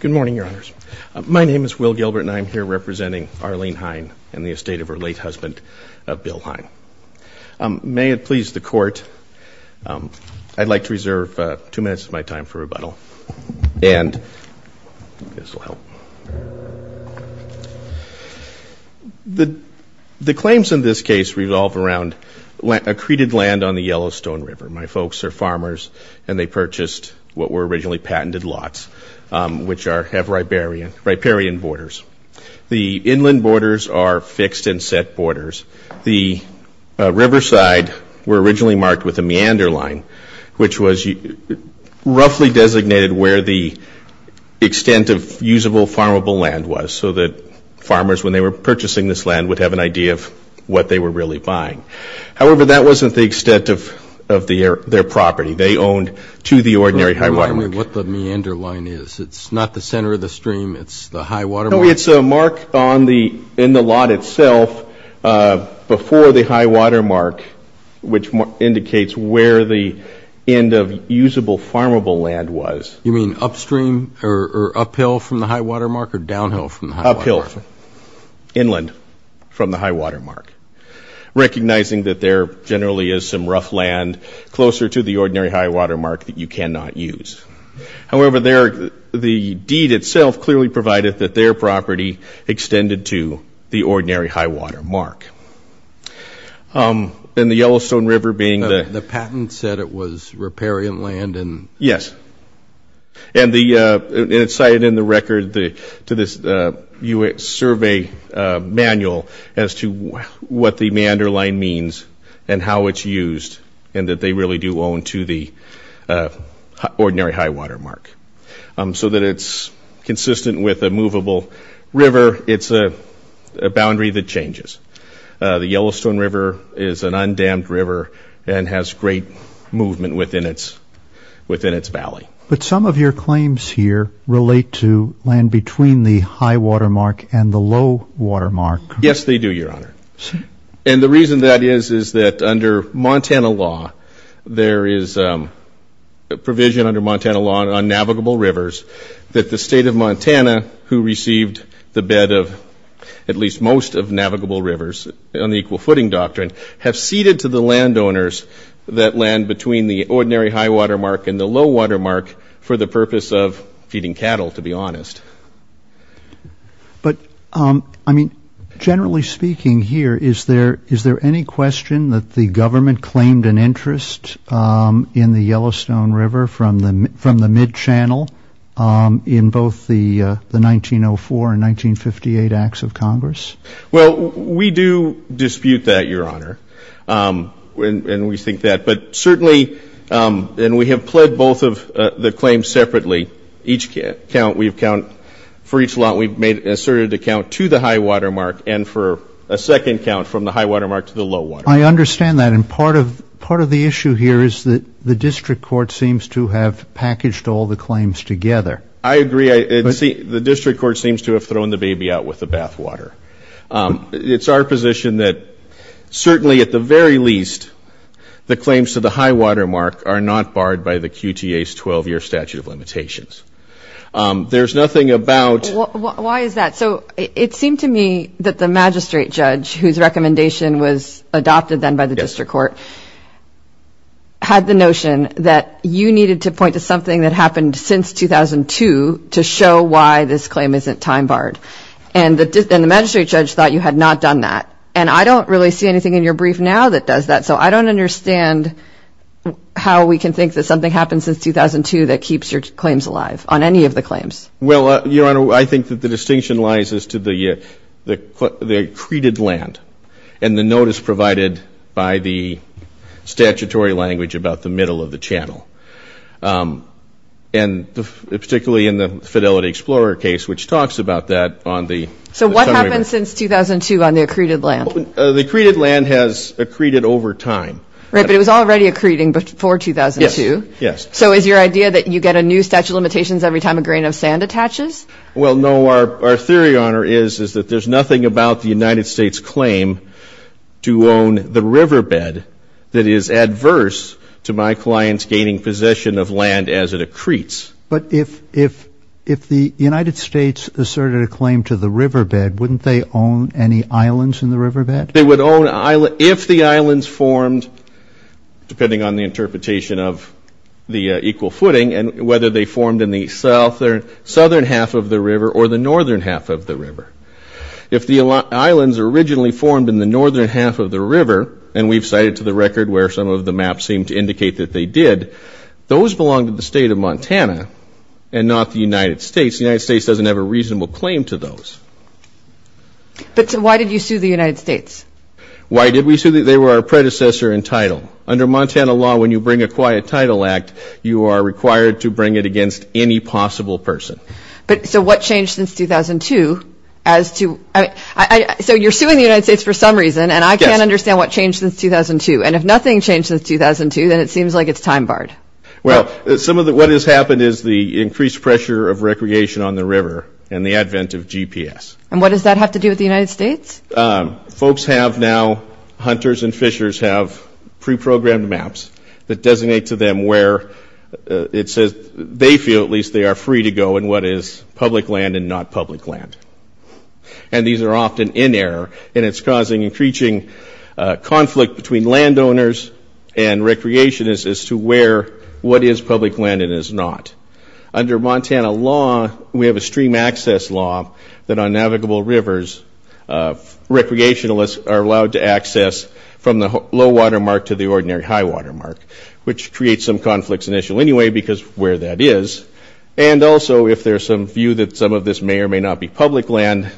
Good morning, Your Honors. My name is Will Gilbert and I'm here representing Arlene Hein and the estate of her late husband, Bill Hein. May it please the Court, I'd like to reserve two minutes of my time for rebuttal and this will help. The claims in this case revolve around accreted land on the Yellowstone River. My folks are farmers and they purchased what were originally patented lots, which have riparian borders. The inland borders are fixed and set borders. The riverside were originally marked with a meander line, which was roughly designated where the extent of usable, farmable land was so that farmers, when they were purchasing this land, would have an idea of what they were really buying. However, that wasn't the extent of their property. They owned to the ordinary high water mark. What the meander line is? It's not the center of the stream, it's the high water mark? No, it's a mark in the lot itself before the high water mark, which indicates where the end of usable, farmable land was. You mean upstream or uphill from the high water mark or downhill from the high water mark? Recognizing that there generally is some rough land closer to the ordinary high water mark that you cannot use. However, the deed itself clearly provided that their property extended to the ordinary high water mark. And the Yellowstone River being the... The patent said it was riparian land and... Yes, and it's cited in the record to this US survey manual as to what the meander line means and how it's used, and that they really do own to the ordinary high water mark. So that it's consistent with a movable river, it's a boundary that changes. The Yellowstone River is an undammed river and has great movement within its valley. But some of your claims here relate to land between the high water mark and the low water mark. Yes, they do, Your Honor. And the reason that is, is that under Montana law, there is a provision under Montana law on navigable rivers that the state of Montana, who received the bed of at least most of navigable rivers on the Equal Footing Doctrine, have ceded to the ordinary high water mark and the low water mark for the purpose of feeding cattle, to be honest. But, I mean, generally speaking here, is there any question that the government claimed an interest in the Yellowstone River from the mid-channel in both the 1904 and 1958 Acts of Congress? Well, we do and we have pled both of the claims separately. Each count, we've counted for each law, we've made an asserted account to the high water mark and for a second count from the high water mark to the low water mark. I understand that. And part of the issue here is that the district court seems to have packaged all the claims together. I agree. The district court seems to have thrown the baby out with the bathwater. It's our position that certainly at the very least, the claims are not barred by the QTA's 12-year statute of limitations. There's nothing about... Why is that? So it seemed to me that the magistrate judge, whose recommendation was adopted then by the district court, had the notion that you needed to point to something that happened since 2002 to show why this claim isn't time-barred. And the magistrate judge thought you had not done that. And I don't really see anything in your brief now that does that. So I don't understand how we can think that something happened since 2002 that keeps your claims alive on any of the claims. Well, Your Honor, I think that the distinction lies as to the accreted land and the notice provided by the statutory language about the middle of the channel. And particularly in the Fidelity Explorer case, which talks about that on the... So what happened since 2002 on the accreted land? The accreted land has accreted over time. Right, but it was already accreting before 2002. Yes. So is your idea that you get a new statute of limitations every time a grain of sand attaches? Well, no. Our theory, Your Honor, is that there's nothing about the United States claim to own the riverbed that is adverse to my clients gaining possession of land as it accretes. But if the United States asserted a claim to the riverbed, wouldn't they own any islands in the riverbed? They would own islands if the islands formed, depending on the interpretation of the equal footing, and whether they formed in the south or southern half of the river or the northern half of the river. If the islands originally formed in the northern half of the river, and we've cited to the record where some of the maps seem to indicate that they did, those belong to the state of Montana and not the United States. The United States doesn't have a reasonable claim to those. But why did you sue the United States? Why did we sue? They were our predecessor in title. Under Montana law, when you bring a quiet title act, you are required to bring it against any possible person. But so what changed since 2002 as to, I mean, so you're suing the United States for some reason, and I can't understand what changed since 2002. And if nothing changed since 2002, then it seems like it's time-barred. Well, some of what has happened is the increased pressure of recreation on the river and the advent of GPS. And what does that have to do with the United States? Folks have now, hunters and fishers, have pre-programmed maps that designate to them where it says they feel at least they are free to go and what is public land and not public land. And these are often in error, and it's causing increasing conflict between landowners and recreationists as to where, what is public land and is not. Under Montana law, we have a stream access law that on navigable rivers, recreationalists are allowed to access from the low-water mark to the ordinary high-water mark, which creates some conflicts initially anyway because where that is. And also if there's some view that some of this may or may not be public land.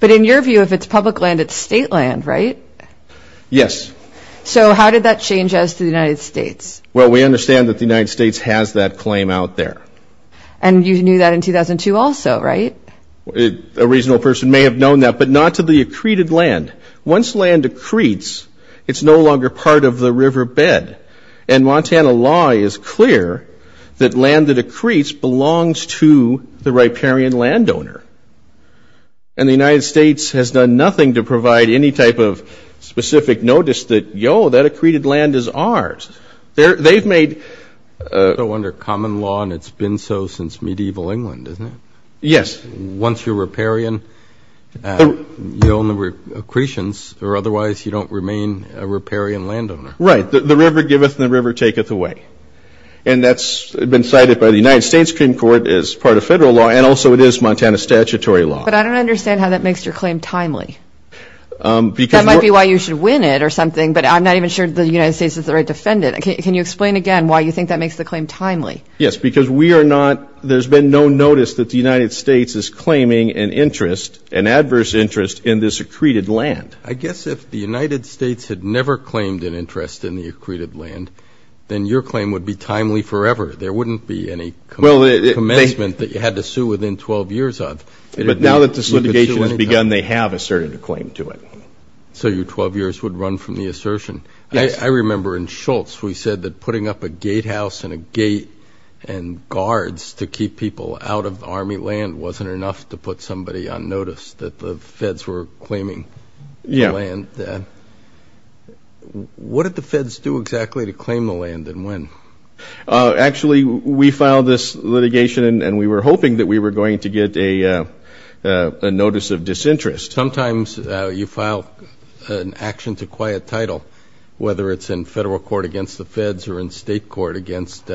But in your view, if it's public land, it's state land, right? Yes. So how did that change as to the United States? Well, we understand that the United States has that claim out there. And you knew that in 2002 also, right? A reasonable person may have known that, but not to the accreted land. Once land accretes, it's no longer part of the riverbed. And Montana law is clear that land that accretes belongs to the riparian landowner. And the United States has done nothing to provide any type of specific notice that, yo, that accreted land is ours. They've made... So under common law, and it's been so since medieval England, isn't it? Yes. Once you're riparian, you own the accretions, or otherwise you don't remain a riparian landowner. Right. The river giveth and the river taketh away. And that's been cited by the United States Supreme Court as part of federal law, and also it is Montana statutory law. But I don't understand how that makes your claim timely. That might be why you should win it or something, but I'm not even sure the United States is the right defendant. Can you explain again why you think that makes the claim timely? Yes, because we are not, there's been no notice that the United States is claiming an interest, an adverse interest, in this accreted land. I guess if the United States had never claimed an interest in the accreted land, then your claim would be timely forever. There wouldn't be any commencement that you had to sue within 12 years of. But now that this litigation has begun, they have asserted a claim to it. So your 12 years would run from the assertion. Yes. I remember in Schultz we said that putting up a gatehouse and a gate and guards to keep people out of army land wasn't enough to put somebody on notice that the feds were claiming land. Yeah. What did the feds do exactly to claim the land and when? Actually we filed this litigation and we were hoping that we were going to get a notice of claim to quiet title, whether it's in federal court against the feds or in state court against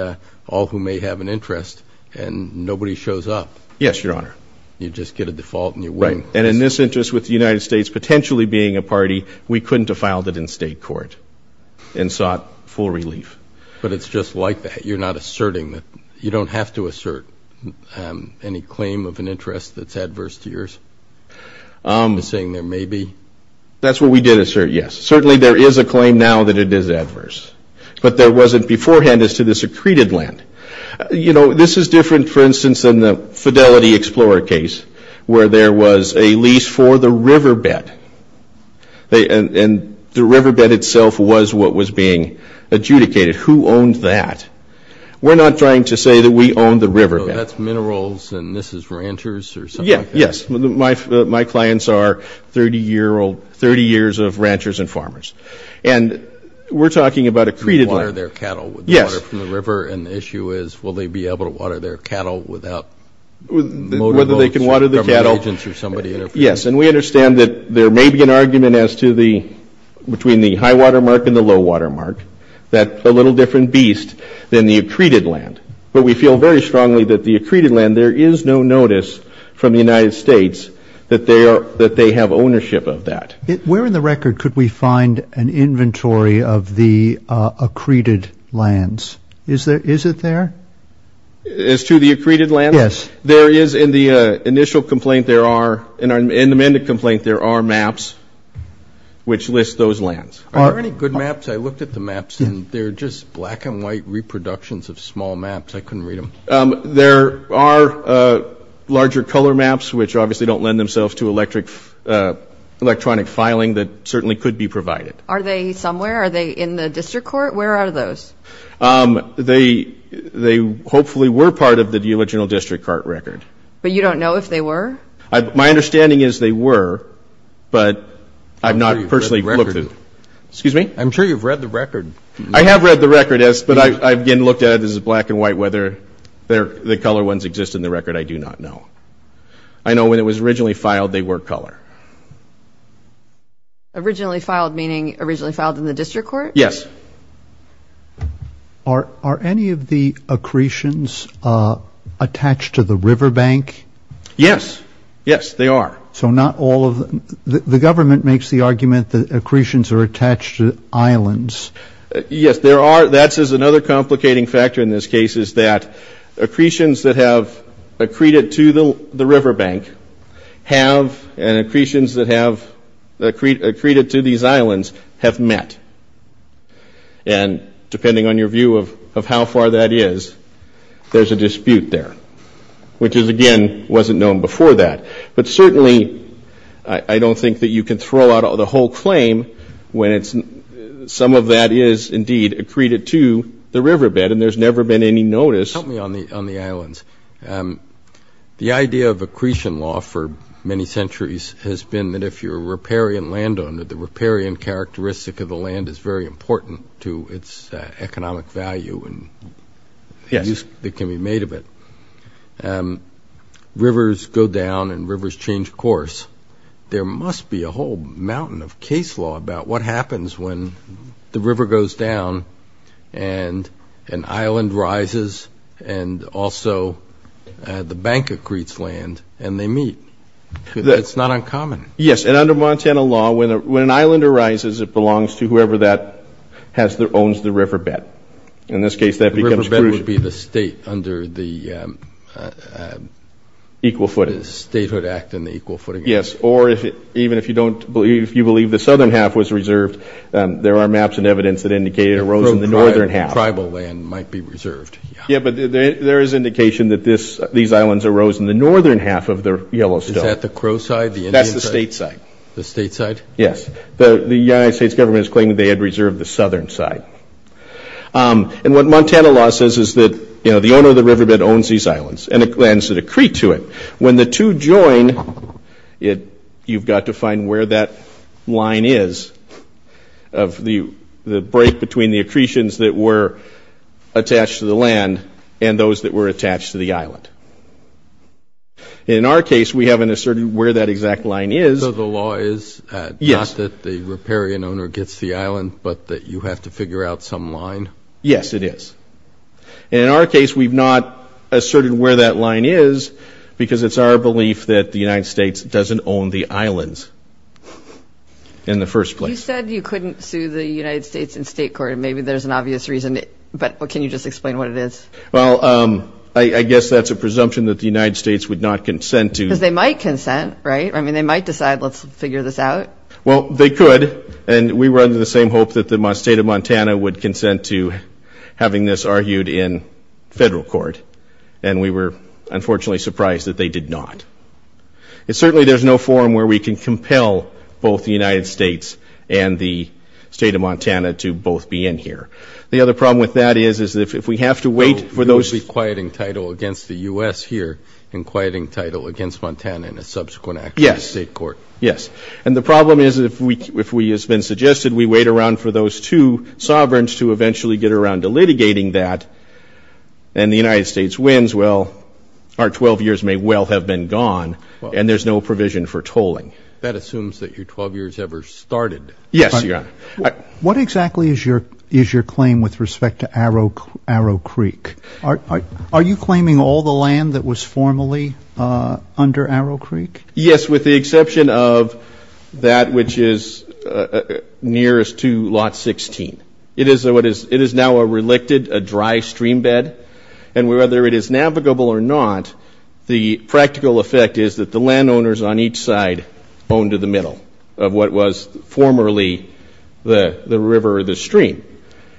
all who may have an interest and nobody shows up. Yes, your honor. You just get a default and you win. Right, and in this interest with the United States potentially being a party, we couldn't have filed it in state court and sought full relief. But it's just like that, you're not asserting that, you don't have to assert any claim of an interest that's adverse to yours. You're saying there may be? That's what we did assert, yes. Certainly there is a claim now that it is adverse, but there wasn't beforehand as to the secreted land. You know, this is different for instance in the Fidelity Explorer case where there was a lease for the riverbed. And the riverbed itself was what was being adjudicated. Who owned that? We're not trying to say that we owned the riverbed. My clients are 30 year old, 30 years of ranchers and farmers. And we're talking about accreted land. Yes. And the issue is will they be able to water their cattle without? Whether they can water the cattle. Yes, and we understand that there may be an argument as to the, between the high water mark and the low water mark, that a little different beast than the accreted land. But we feel very that they are, that they have ownership of that. Where in the record could we find an inventory of the accreted lands? Is there, is it there? As to the accreted lands? Yes. There is in the initial complaint, there are, in the amended complaint, there are maps which list those lands. Are there any good maps? I looked at the maps and they're just black and white reproductions of small maps. I couldn't lend themselves to electric, electronic filing that certainly could be provided. Are they somewhere? Are they in the district court? Where are those? They, they hopefully were part of the original district court record. But you don't know if they were? My understanding is they were, but I've not personally looked at it. Excuse me? I'm sure you've read the record. I have read the record, yes, but I've again looked at it as black and white, whether they're, the color ones exist in the record, I do not know. I know when it was originally filed, they were color. Originally filed, meaning originally filed in the district court? Yes. Are, are any of the accretions attached to the riverbank? Yes, yes, they are. So not all of them? The government makes the argument that accretions are attached to islands. Yes, there are. That says another complicating factor in this case is that accretions that have accreted to the, the riverbank have, and accretions that have accreted to these islands have met. And depending on your view of, of how far that is, there's a dispute there, which is again, wasn't known before that. But certainly, I, I don't think that you can throw out all the whole claim when it's, some of that is indeed accreted to the riverbed and there's never been any notice. Help me on the, on the islands. The idea of accretion law for many centuries has been that if you're a riparian landowner, the riparian characteristic of the land is very important to its economic value and the use that can be made of it. Rivers go down and rivers change course. There must be a whole mountain of case law about what happens when the river goes down and an island rises and also the bank accretes land and they meet. That's not uncommon. Yes, and under Montana law, when a, when an island arises, it belongs to whoever that has the, owns the riverbed. In this case, that becomes. The riverbed would be the state under the. Equal footing. Statehood Act and the equal footing. Yes, or if it, even if you don't believe, if you believe the southern half was reserved, there are maps and evidence that indicate it arose in the northern half. Tribal land might be reserved. Yeah, but there is indication that this, these islands arose in the northern half of the Yellowstone. Is that the Crow side? That's the state side. The state side? Yes. The United States government is claiming they had reserved the southern side. And what Montana law says is that, you know, the owner of the riverbed owns these islands and lands that accrete to it. When the two join, it, you've got to find where that line is of the, the break between the accretions that were attached to the land and those that were attached to the island. In our case, we haven't asserted where that exact line is. So the law is not that the riparian owner gets the island, but that you have to figure out some line? Yes, it is. In our case, we've not asserted where that line is because it's our belief that the United States doesn't own the islands in the first place. You said you couldn't sue the United States in state court. Maybe there's an obvious reason, but can you just explain what it is? Well, I guess that's a presumption that the United States would not consent to... Because they might consent, right? I mean, they might decide, let's figure this out. Well, they could, and we were under the same hope that the state of Montana would consent to having this argued in federal court. And we were unfortunately surprised that they did not. It's certainly, there's no forum where we can compel both the other problem with that is, is that if we have to wait for those... So, you'll be quieting title against the U.S. here, and quieting title against Montana in a subsequent action in state court? Yes, yes. And the problem is, if we, if we has been suggested, we wait around for those two sovereigns to eventually get around to litigating that, and the United States wins, well, our 12 years may well have been gone, and there's no provision for tolling. That assumes that your 12 years ever started. Yes, Your Honor. What exactly is your, is your claim with respect to Arrow, Arrow Creek? Are, are you claiming all the land that was formally under Arrow Creek? Yes, with the exception of that which is nearest to Lot 16. It is what is, it is now a relicted, a dry streambed, and whether it is navigable or not, the practical effect is that the landowners on each side own to the extent that it was formerly the, the river or the stream,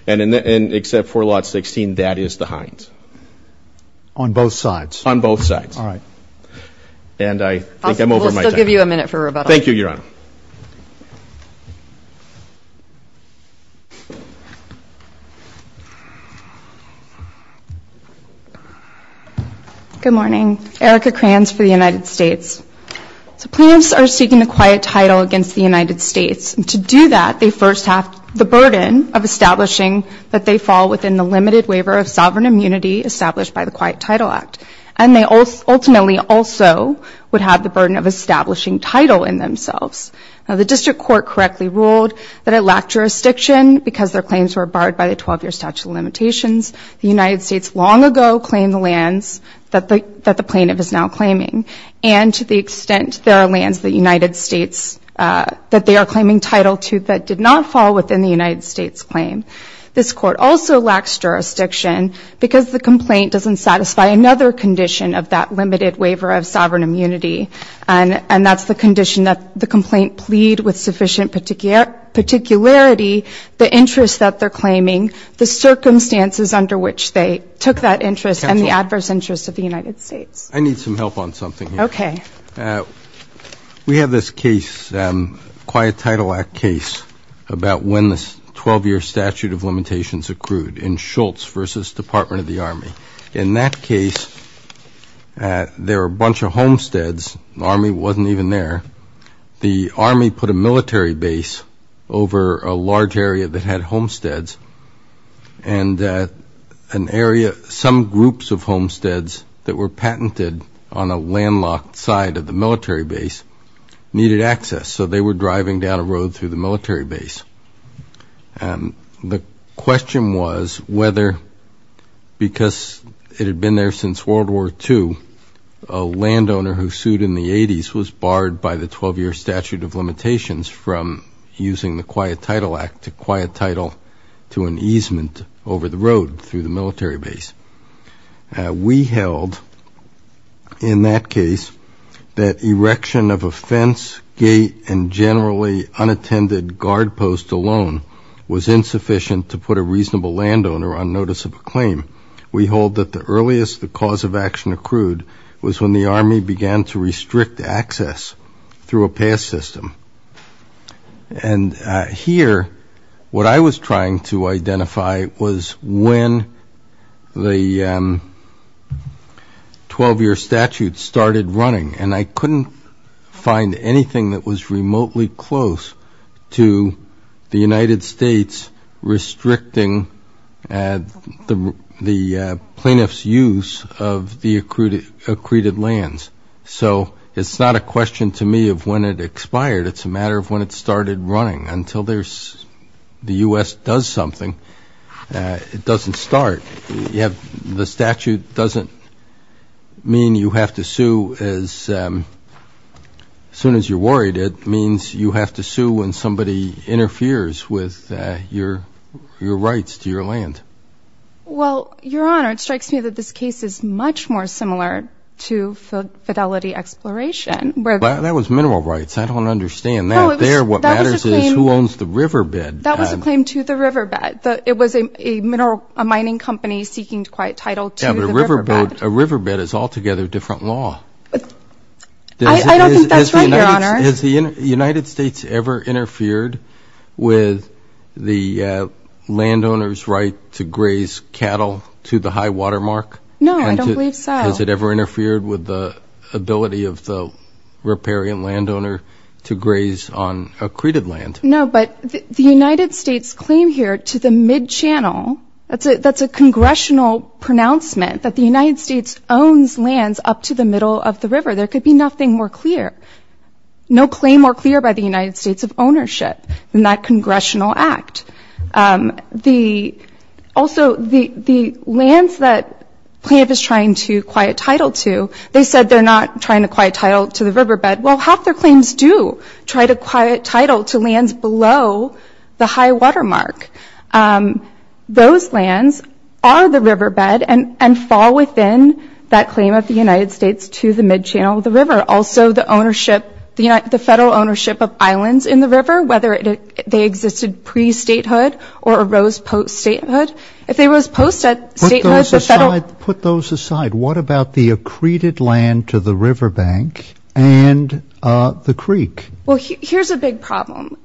and in the, and except for Lot 16, that is the Hines. On both sides? On both sides. All right. And I think I'm over my time. We'll still give you a minute for rebuttal. Thank you, Your Honor. Good morning. Erica Kranz for the United States. So plaintiffs are seeking a quiet title against the United States. To do that, they first have the burden of establishing that they fall within the limited waiver of sovereign immunity established by the Quiet Title Act, and they ultimately also would have the burden of establishing title in themselves. Now, the district court correctly ruled that it lacked jurisdiction because their claims were barred by the 12-year statute of limitations. The United States long ago claimed the lands that the, that the plaintiff is now claiming, and to the that they are claiming title to that did not fall within the United States claim. This court also lacks jurisdiction because the complaint doesn't satisfy another condition of that limited waiver of sovereign immunity, and, and that's the condition that the complaint plead with sufficient particular, particularity, the interest that they're claiming, the circumstances under which they took that interest, and the adverse interest of the United States. I need some help on this case, Quiet Title Act case, about when this 12-year statute of limitations accrued in Schultz versus Department of the Army. In that case, there are a bunch of homesteads, the Army wasn't even there. The Army put a military base over a large area that had homesteads, and an area, some groups of homesteads that were needed access, so they were driving down a road through the military base. The question was whether, because it had been there since World War II, a landowner who sued in the 80s was barred by the 12-year statute of limitations from using the Quiet Title Act to quiet title to an easement over the road through the gate and generally unattended guard post alone was insufficient to put a reasonable landowner on notice of a claim. We hold that the earliest the cause of action accrued was when the Army began to restrict access through a pass system. And here, what I was trying to identify was when the 12-year statute started running, and I couldn't find anything that was remotely close to the United States restricting the plaintiff's use of the accrued accreted lands. So it's not a question to me of when it expired, it's a matter of when it started running. Until the U.S. does something, it doesn't start. The statute doesn't mean you have to sue as soon as you're worried. It means you have to sue when somebody interferes with your rights to your land. Well, Your Honor, it strikes me that this case is much more similar to Fidelity Exploration. That was mineral rights. I don't understand that. There, what matters is who owns the riverbed. That was a claim to the riverbed. It was a mining company seeking quite title to the riverbed. Yeah, but a riverbed is altogether a different law. I don't think that's right, Your Honor. Has the United States ever interfered with the landowner's right to graze cattle to the high water mark? No, I don't believe so. Has it ever interfered with the ability of the riparian landowner to graze on accreted land? No, but the United States' claim here to the mid-channel, that's a congressional pronouncement that the United States owns lands up to the middle of the river. There could be nothing more clear, no claim more clear by the United States of ownership than that congressional act. Also, the lands that Plaintiff is trying to acquire a title to, they said they're not trying to acquire a title to the riverbed. Well, half their claims do try to acquire a title to lands below the high water mark. Those lands are the riverbed and fall within that claim of the United States to the mid-channel of the river. Also, the federal ownership of islands in the river, whether they existed pre-statehood or arose post-statehood, if they arose post-statehood, the federal... Well, here's a big problem.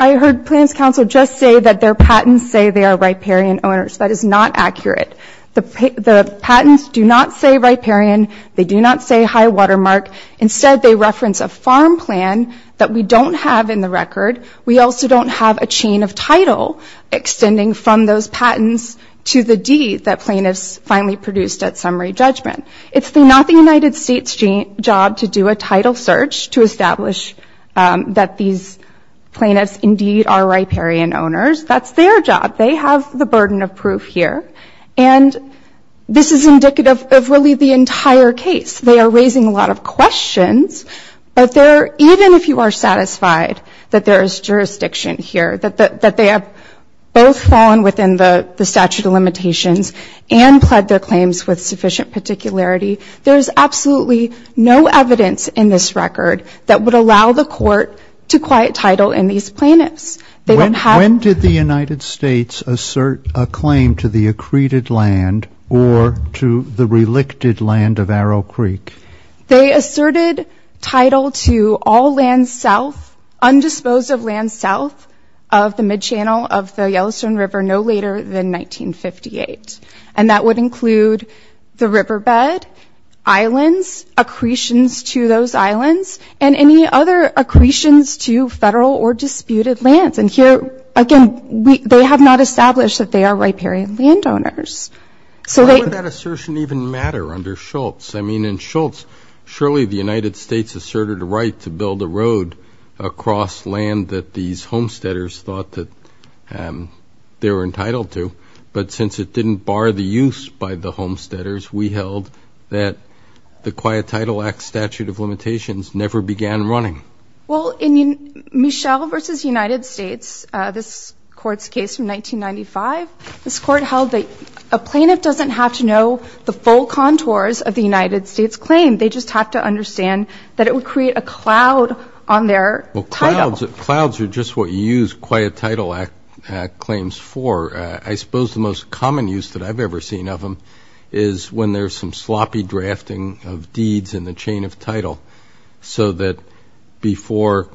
I heard Plaintiff's counsel just say that their patents say they are riparian owners. That is not accurate. The patents do not say riparian. They do not say high water mark. Instead, they reference a farm plan that we don't have in the record. We also don't have a chain of title extending from those patents to the deed that plaintiffs finally produced at summary judgment. It's not the United States' job to do a title search to establish that these plaintiffs indeed are riparian owners. That's their job. They have the burden of proof here. And this is indicative of really the entire case. They are raising a lot of questions, but even if you are satisfied that there is jurisdiction here, that they have both fallen within the statute of limitations and pled their claims with record that would allow the court to quiet title in these plaintiffs. They don't have... When did the United States assert a claim to the accreted land or to the relicted land of Arrow Creek? They asserted title to all land south, undisposed of land south of the mid-channel of the Yellowstone River no later than 1958. And that would include the riverbed, islands, accretions to those islands, and any other accretions to federal or disputed lands. And here, again, they have not established that they are riparian landowners. Why would that assertion even matter under Schultz? I mean, in Schultz, surely the United States asserted a right to build a road across land that these homesteaders thought that they were entitled to. But since it didn't bar the use by the homesteaders, we held that the Quiet Title Act statute of limitations never began running. Well, in Michel v. United States, this court's case from 1995, this court held that a plaintiff doesn't have to know the full contours of the United States claim. They just have to understand that it would create a cloud on their title. Well, clouds are just what you use Quiet Title Act claims for. I suppose the most common use that I've ever seen of them is when there's some sloppy drafting of deeds in the chain of title so that before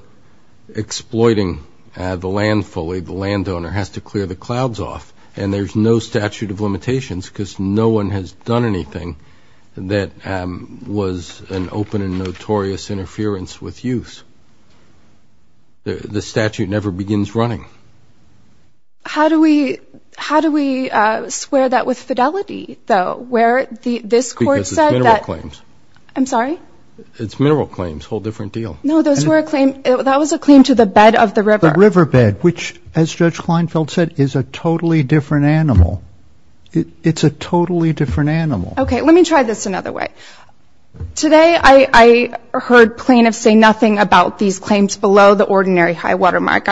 exploiting the land fully, the landowner has to clear the clouds off. And there's no statute of limitations because no one has done anything that was an open and notorious interference with use. The statute never begins running. How do we swear that with fidelity, though, where this court said that Because it's mineral claims. I'm sorry? It's mineral claims, whole different deal. No, those were a claim. That was a claim to the bed of the river. The riverbed, which, as Judge Kleinfeld said, is a totally different animal. It's a totally different animal. Okay, let me try this another way. Today I heard plaintiffs say nothing about these claims below the ordinary high water mark.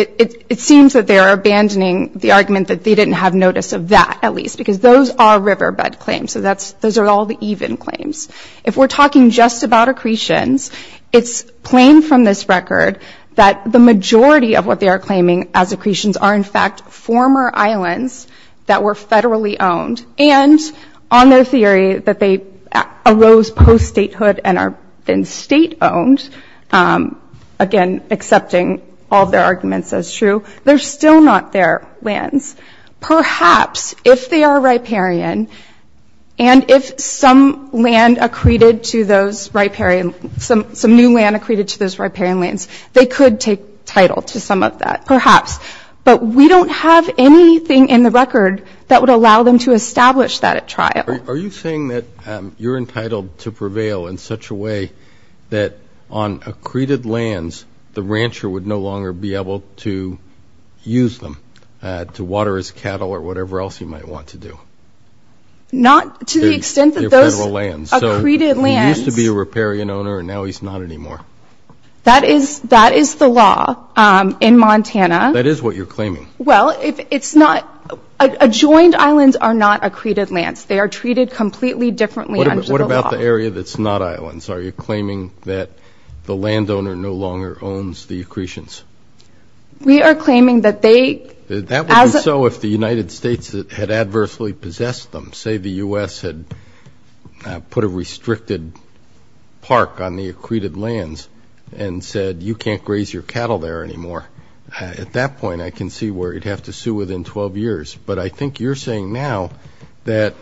It seems that they're abandoning the argument that they didn't have notice of that, at least, because those are riverbed claims. So those are all the even claims. If we're talking just about accretions, it's plain from this record that the majority of what they are claiming as accretions are, in fact, former islands that were federally owned and on their theory that they arose post-statehood and are then state-owned, again, accepting all of their arguments as true. They're still not their lands. Perhaps if they are riparian and if some land accreted to those riparian, some new land accreted to those riparian lands, they could take title to some of that, perhaps. But we don't have anything in the record that would allow them to establish that at trial. Are you saying that you're entitled to prevail in such a way that on accreted lands, the rancher would no longer be able to use them to water his cattle or whatever else you might want to do? Not to the extent that those accreted lands... He used to be a riparian owner and now he's not anymore. That is the law in Montana. That is what you're claiming. Well, it's not... Adjoined islands are not accreted lands. They are treated completely differently under the law. What about the area that's not islands? Are you claiming that the landowner no longer owns the accretions? We are claiming that they... That would be so if the United States had adversely possessed them. Say the U.S. had put a restricted park on the accreted lands and said, you can't graze your cattle there anymore. At that point, I can see where you'd have to sue within 12 years. But I think you're saying now that,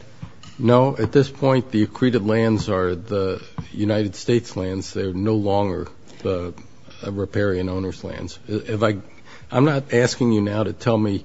no, at this point, the accreted lands are the United States lands. They're no longer the riparian owner's lands. I'm not asking you now to tell me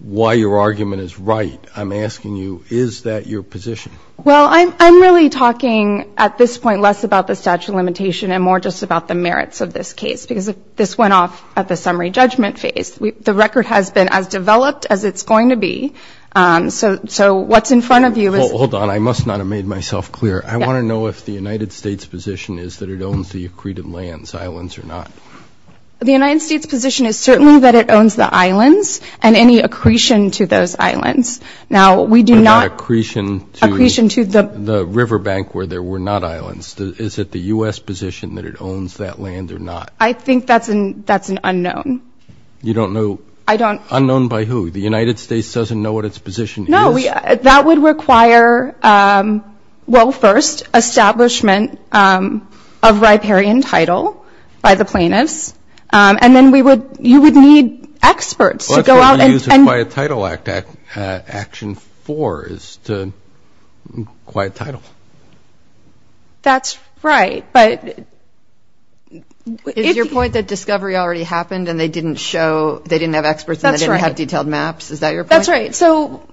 why your argument is right. I'm asking you, is that your position? Well, I'm really talking at this point less about the statute of limitation and more just about the merits of this case, because this went off at the summary judgment phase. The record has been as developed as it's going to be. So what's in front of you is... Well, hold on. I must not have made myself clear. I want to know if the United States position is that it owns the accreted lands, islands or not. The United States position is certainly that it owns the islands and any accretion to those islands. Now, we do not... What about accretion to... Accretion to the... The river bank where there were not islands. Is it the U.S. position that it owns that land or not? I think that's an unknown. You don't know... I don't... Unknown by who? The United States doesn't know what its position is? No. That would require, well, first, establishment of riparian title by the plaintiffs, and then you would need experts to go out and... Well, that's what you use Acquired Title Act Action 4, is to acquire title. That's right, but... Is your point that discovery already happened and they didn't show... They didn't have experts and they didn't have detailed maps? Is that your point? That's right. So,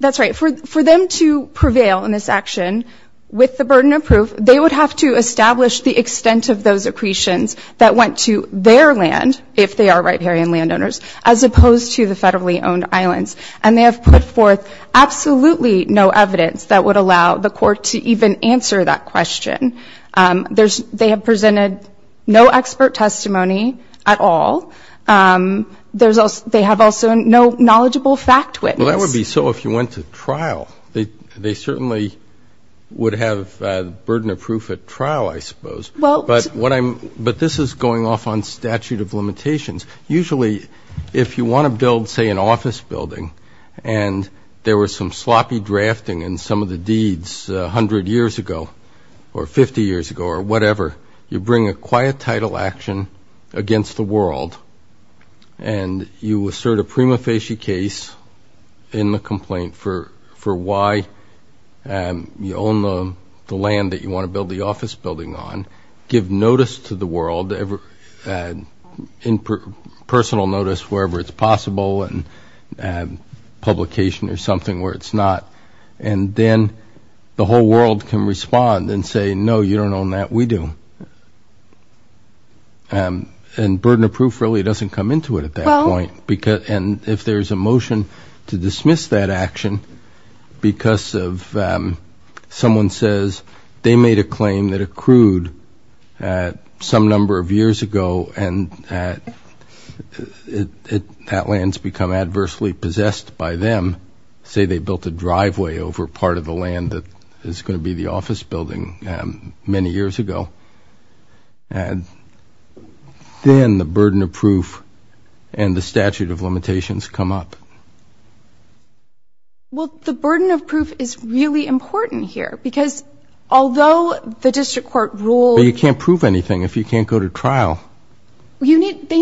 that's right. For them to prevail in this action with the burden of proof, they would have to establish the extent of those accretions that went to their land, if they are riparian landowners, as opposed to the federally owned islands, and they have put forth absolutely no evidence that would allow the court to even answer that question. They have presented no expert testimony at all. They have also no knowledgeable fact witness. Well, that would be so if you went to trial. They certainly would have burden of proof at trial, I suppose. Well... But this is going off on statute of limitations. Usually, if you want to build, say, an office building, and there was some sloppy drafting in some of the deeds 100 years ago or 50 years ago or whatever, you bring a quiet title action against the world and you assert a prima facie case in the complaint for why you own the land that you want to build the office building on, give notice to the world, personal notice wherever it's possible, publication or something where it's not, and then the whole world can respond and say, no, you don't own that, we do. And burden of proof really doesn't come into it at that point. Well... And if there's a motion to dismiss that action because someone says they made a claim that accrued some number of years ago and that land's become adversely possessed by them, say they built a driveway over part of the land that is going to be the office building many years ago, then the burden of proof and the statute of limitations come up. Well, the burden of proof is really important here because although the district court ruled... They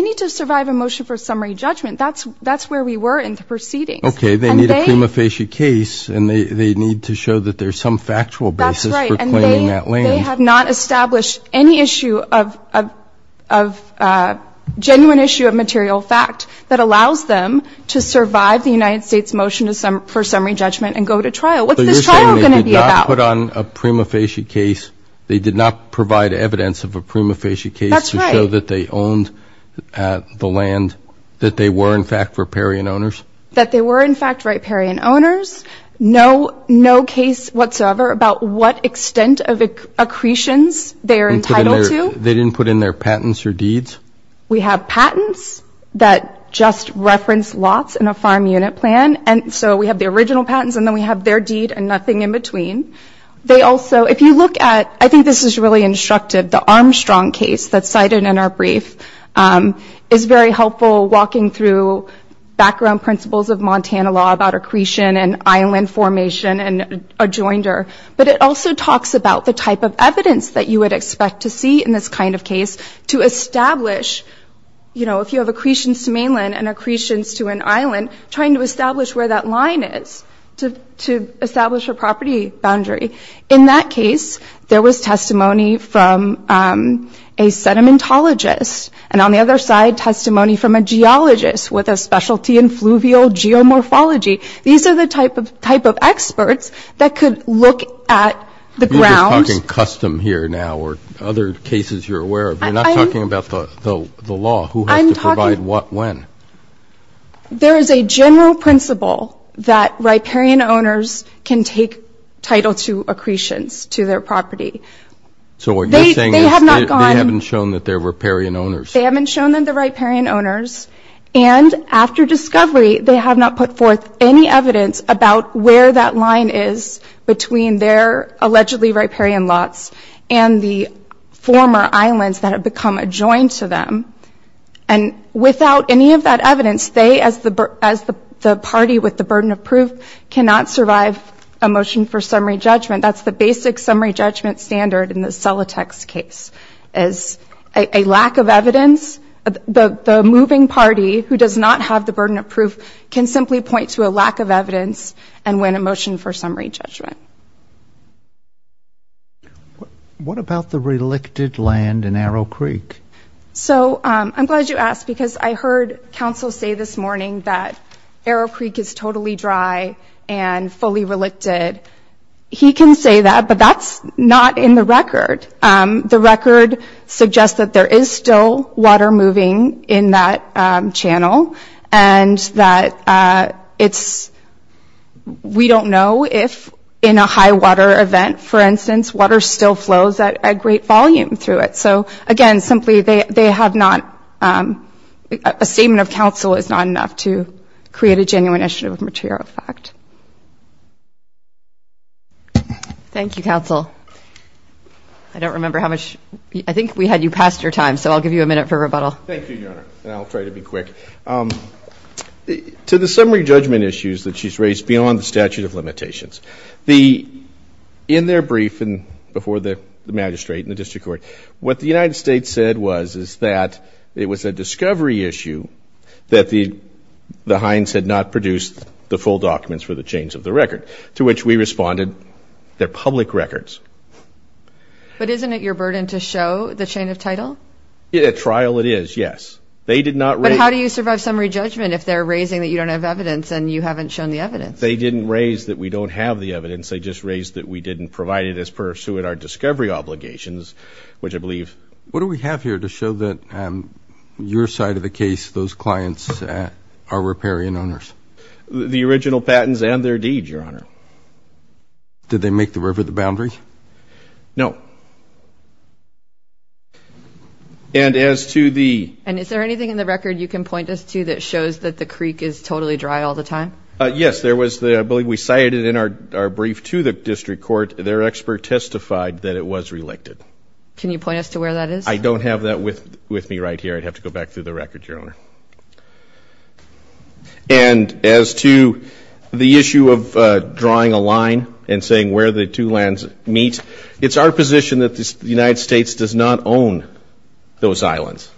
need to survive a motion for summary judgment. That's where we were in the proceedings. Okay. They need a prima facie case and they need to show that there's some factual basis for claiming that land. That's right. And they have not established any issue of genuine issue of material fact that allows them to survive the United States motion for summary judgment and go to trial. What's this trial going to be about? So you're saying they did not put on a prima facie case, they did not provide evidence of a prima facie case... That they owned the land, that they were in fact riparian owners? That they were in fact riparian owners. No case whatsoever about what extent of accretions they are entitled to. They didn't put in their patents or deeds? We have patents that just reference lots in a farm unit plan and so we have the original patents and then we have their deed and nothing in between. They also... If you look at... I think this is really instructive, the Armstrong case that's cited in our brief is very helpful walking through background principles of Montana law about accretion and island formation and adjoinder. But it also talks about the type of evidence that you would expect to see in this kind of case to establish, you know, if you have accretions to mainland and accretions to an island, trying to establish where that line is to establish a property boundary. In that case, there was testimony from a sedimentologist and on the other side, testimony from a geologist with a specialty in fluvial geomorphology. These are the type of experts that could look at the grounds... You're just talking custom here now or other cases you're aware of. You're not talking about the law. Who has to provide what when? There is a general principle that riparian owners can take title to accretions to their property. So what you're saying is they haven't shown that they're riparian owners. They haven't shown them they're riparian owners. And after discovery, they have not put forth any evidence about where that line is between their allegedly riparian lots and the former islands that have become adjoined to them. And without any of that evidence, they as the party with the burden of proof cannot survive a motion for summary judgment. That's the basic summary judgment standard in the Celotex case is a lack of evidence. The moving party who does not have the burden of proof can simply point to a lack of evidence and win a motion for summary judgment. What about the relicted land in Arrow Creek? I'm glad you asked because I heard counsel say this morning that Arrow Creek is totally dry and fully relicted. He can say that, but that's not in the record. The record suggests that there is still water moving in that channel and that we don't know if in a high water event, for instance, water still flows at a great volume through it. So, again, simply a statement of counsel is not enough to create a genuine issue of material fact. Thank you, counsel. I don't remember how much. I think we had you past your time, so I'll give you a minute for rebuttal. Thank you, Your Honor, and I'll try to be quick. To the summary judgment issues that she's raised beyond the statute of limitations, in their brief before the magistrate and the district court, what the United States said was is that it was a discovery issue that the Hines had not produced the full documents for the change of the record, to which we responded, they're public records. But isn't it your burden to show the chain of title? At trial, it is, yes. But how do you survive summary judgment if they're raising that you don't have evidence and you haven't shown the evidence? They didn't raise that we don't have the evidence. They just raised that we didn't provide it as per our discovery obligations, which I believe. What do we have here to show that your side of the case, those clients are riparian owners? The original patents and their deed, Your Honor. Did they make the river the boundary? No. And as to the... And is there anything in the record you can point us to that shows that the creek is totally dry all the time? Yes, there was... I believe we cited it in our brief to the district court. Their expert testified that it was reelected. Can you point us to where that is? I don't have that with me right here. I'd have to go back through the record, Your Honor. And as to the issue of drawing a line and saying where the two lands meet, it's our position that the United States does not own those islands,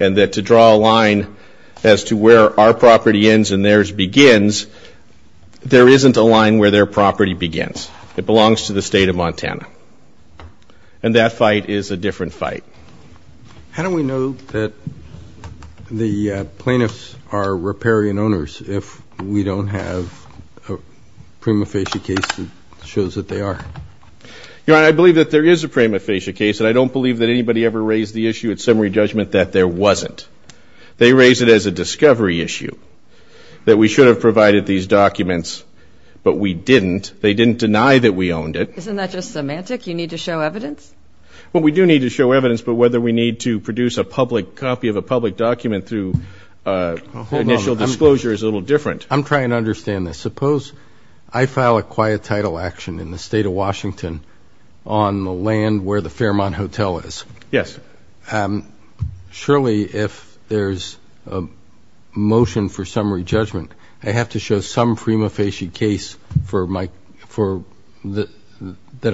and that to draw a line as to where our property ends and theirs begins, there isn't a line where their property begins. It belongs to the State of Montana. And that fight is a different fight. How do we know that the plaintiffs are riparian owners if we don't have a prima facie case that shows that they are? Your Honor, I believe that there is a prima facie case, and I don't believe that anybody ever raised the issue at summary judgment that there wasn't. They raised it as a discovery issue, that we should have provided these documents, but we didn't. They didn't deny that we owned it. Isn't that just semantic? You need to show evidence? Well, we do need to show evidence, but whether we need to produce a public copy of a public document through initial disclosure is a little different. I'm trying to understand this. Suppose I file a quiet title action in the State of Washington on the land where the Fairmont Hotel is. Yes. Surely if there's a motion for summary judgment, I have to show some prima facie case that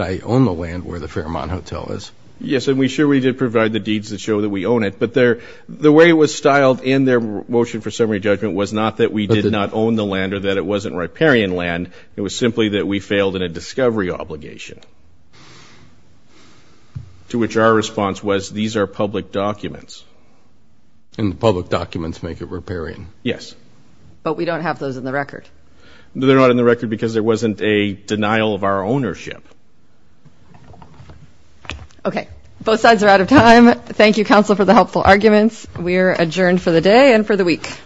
I own the land where the Fairmont Hotel is. Yes, and we sure we did provide the deeds that show that we own it. But the way it was styled in their motion for summary judgment was not that we did not own the land or that it wasn't riparian land. It was simply that we failed in a discovery obligation, to which our response was these are public documents. And the public documents make it riparian. Yes. But we don't have those in the record. They're not in the record because there wasn't a denial of our ownership. Okay. Both sides are out of time. Thank you, counsel, for the helpful arguments. We are adjourned for the day and for the week. Thank you. All rise.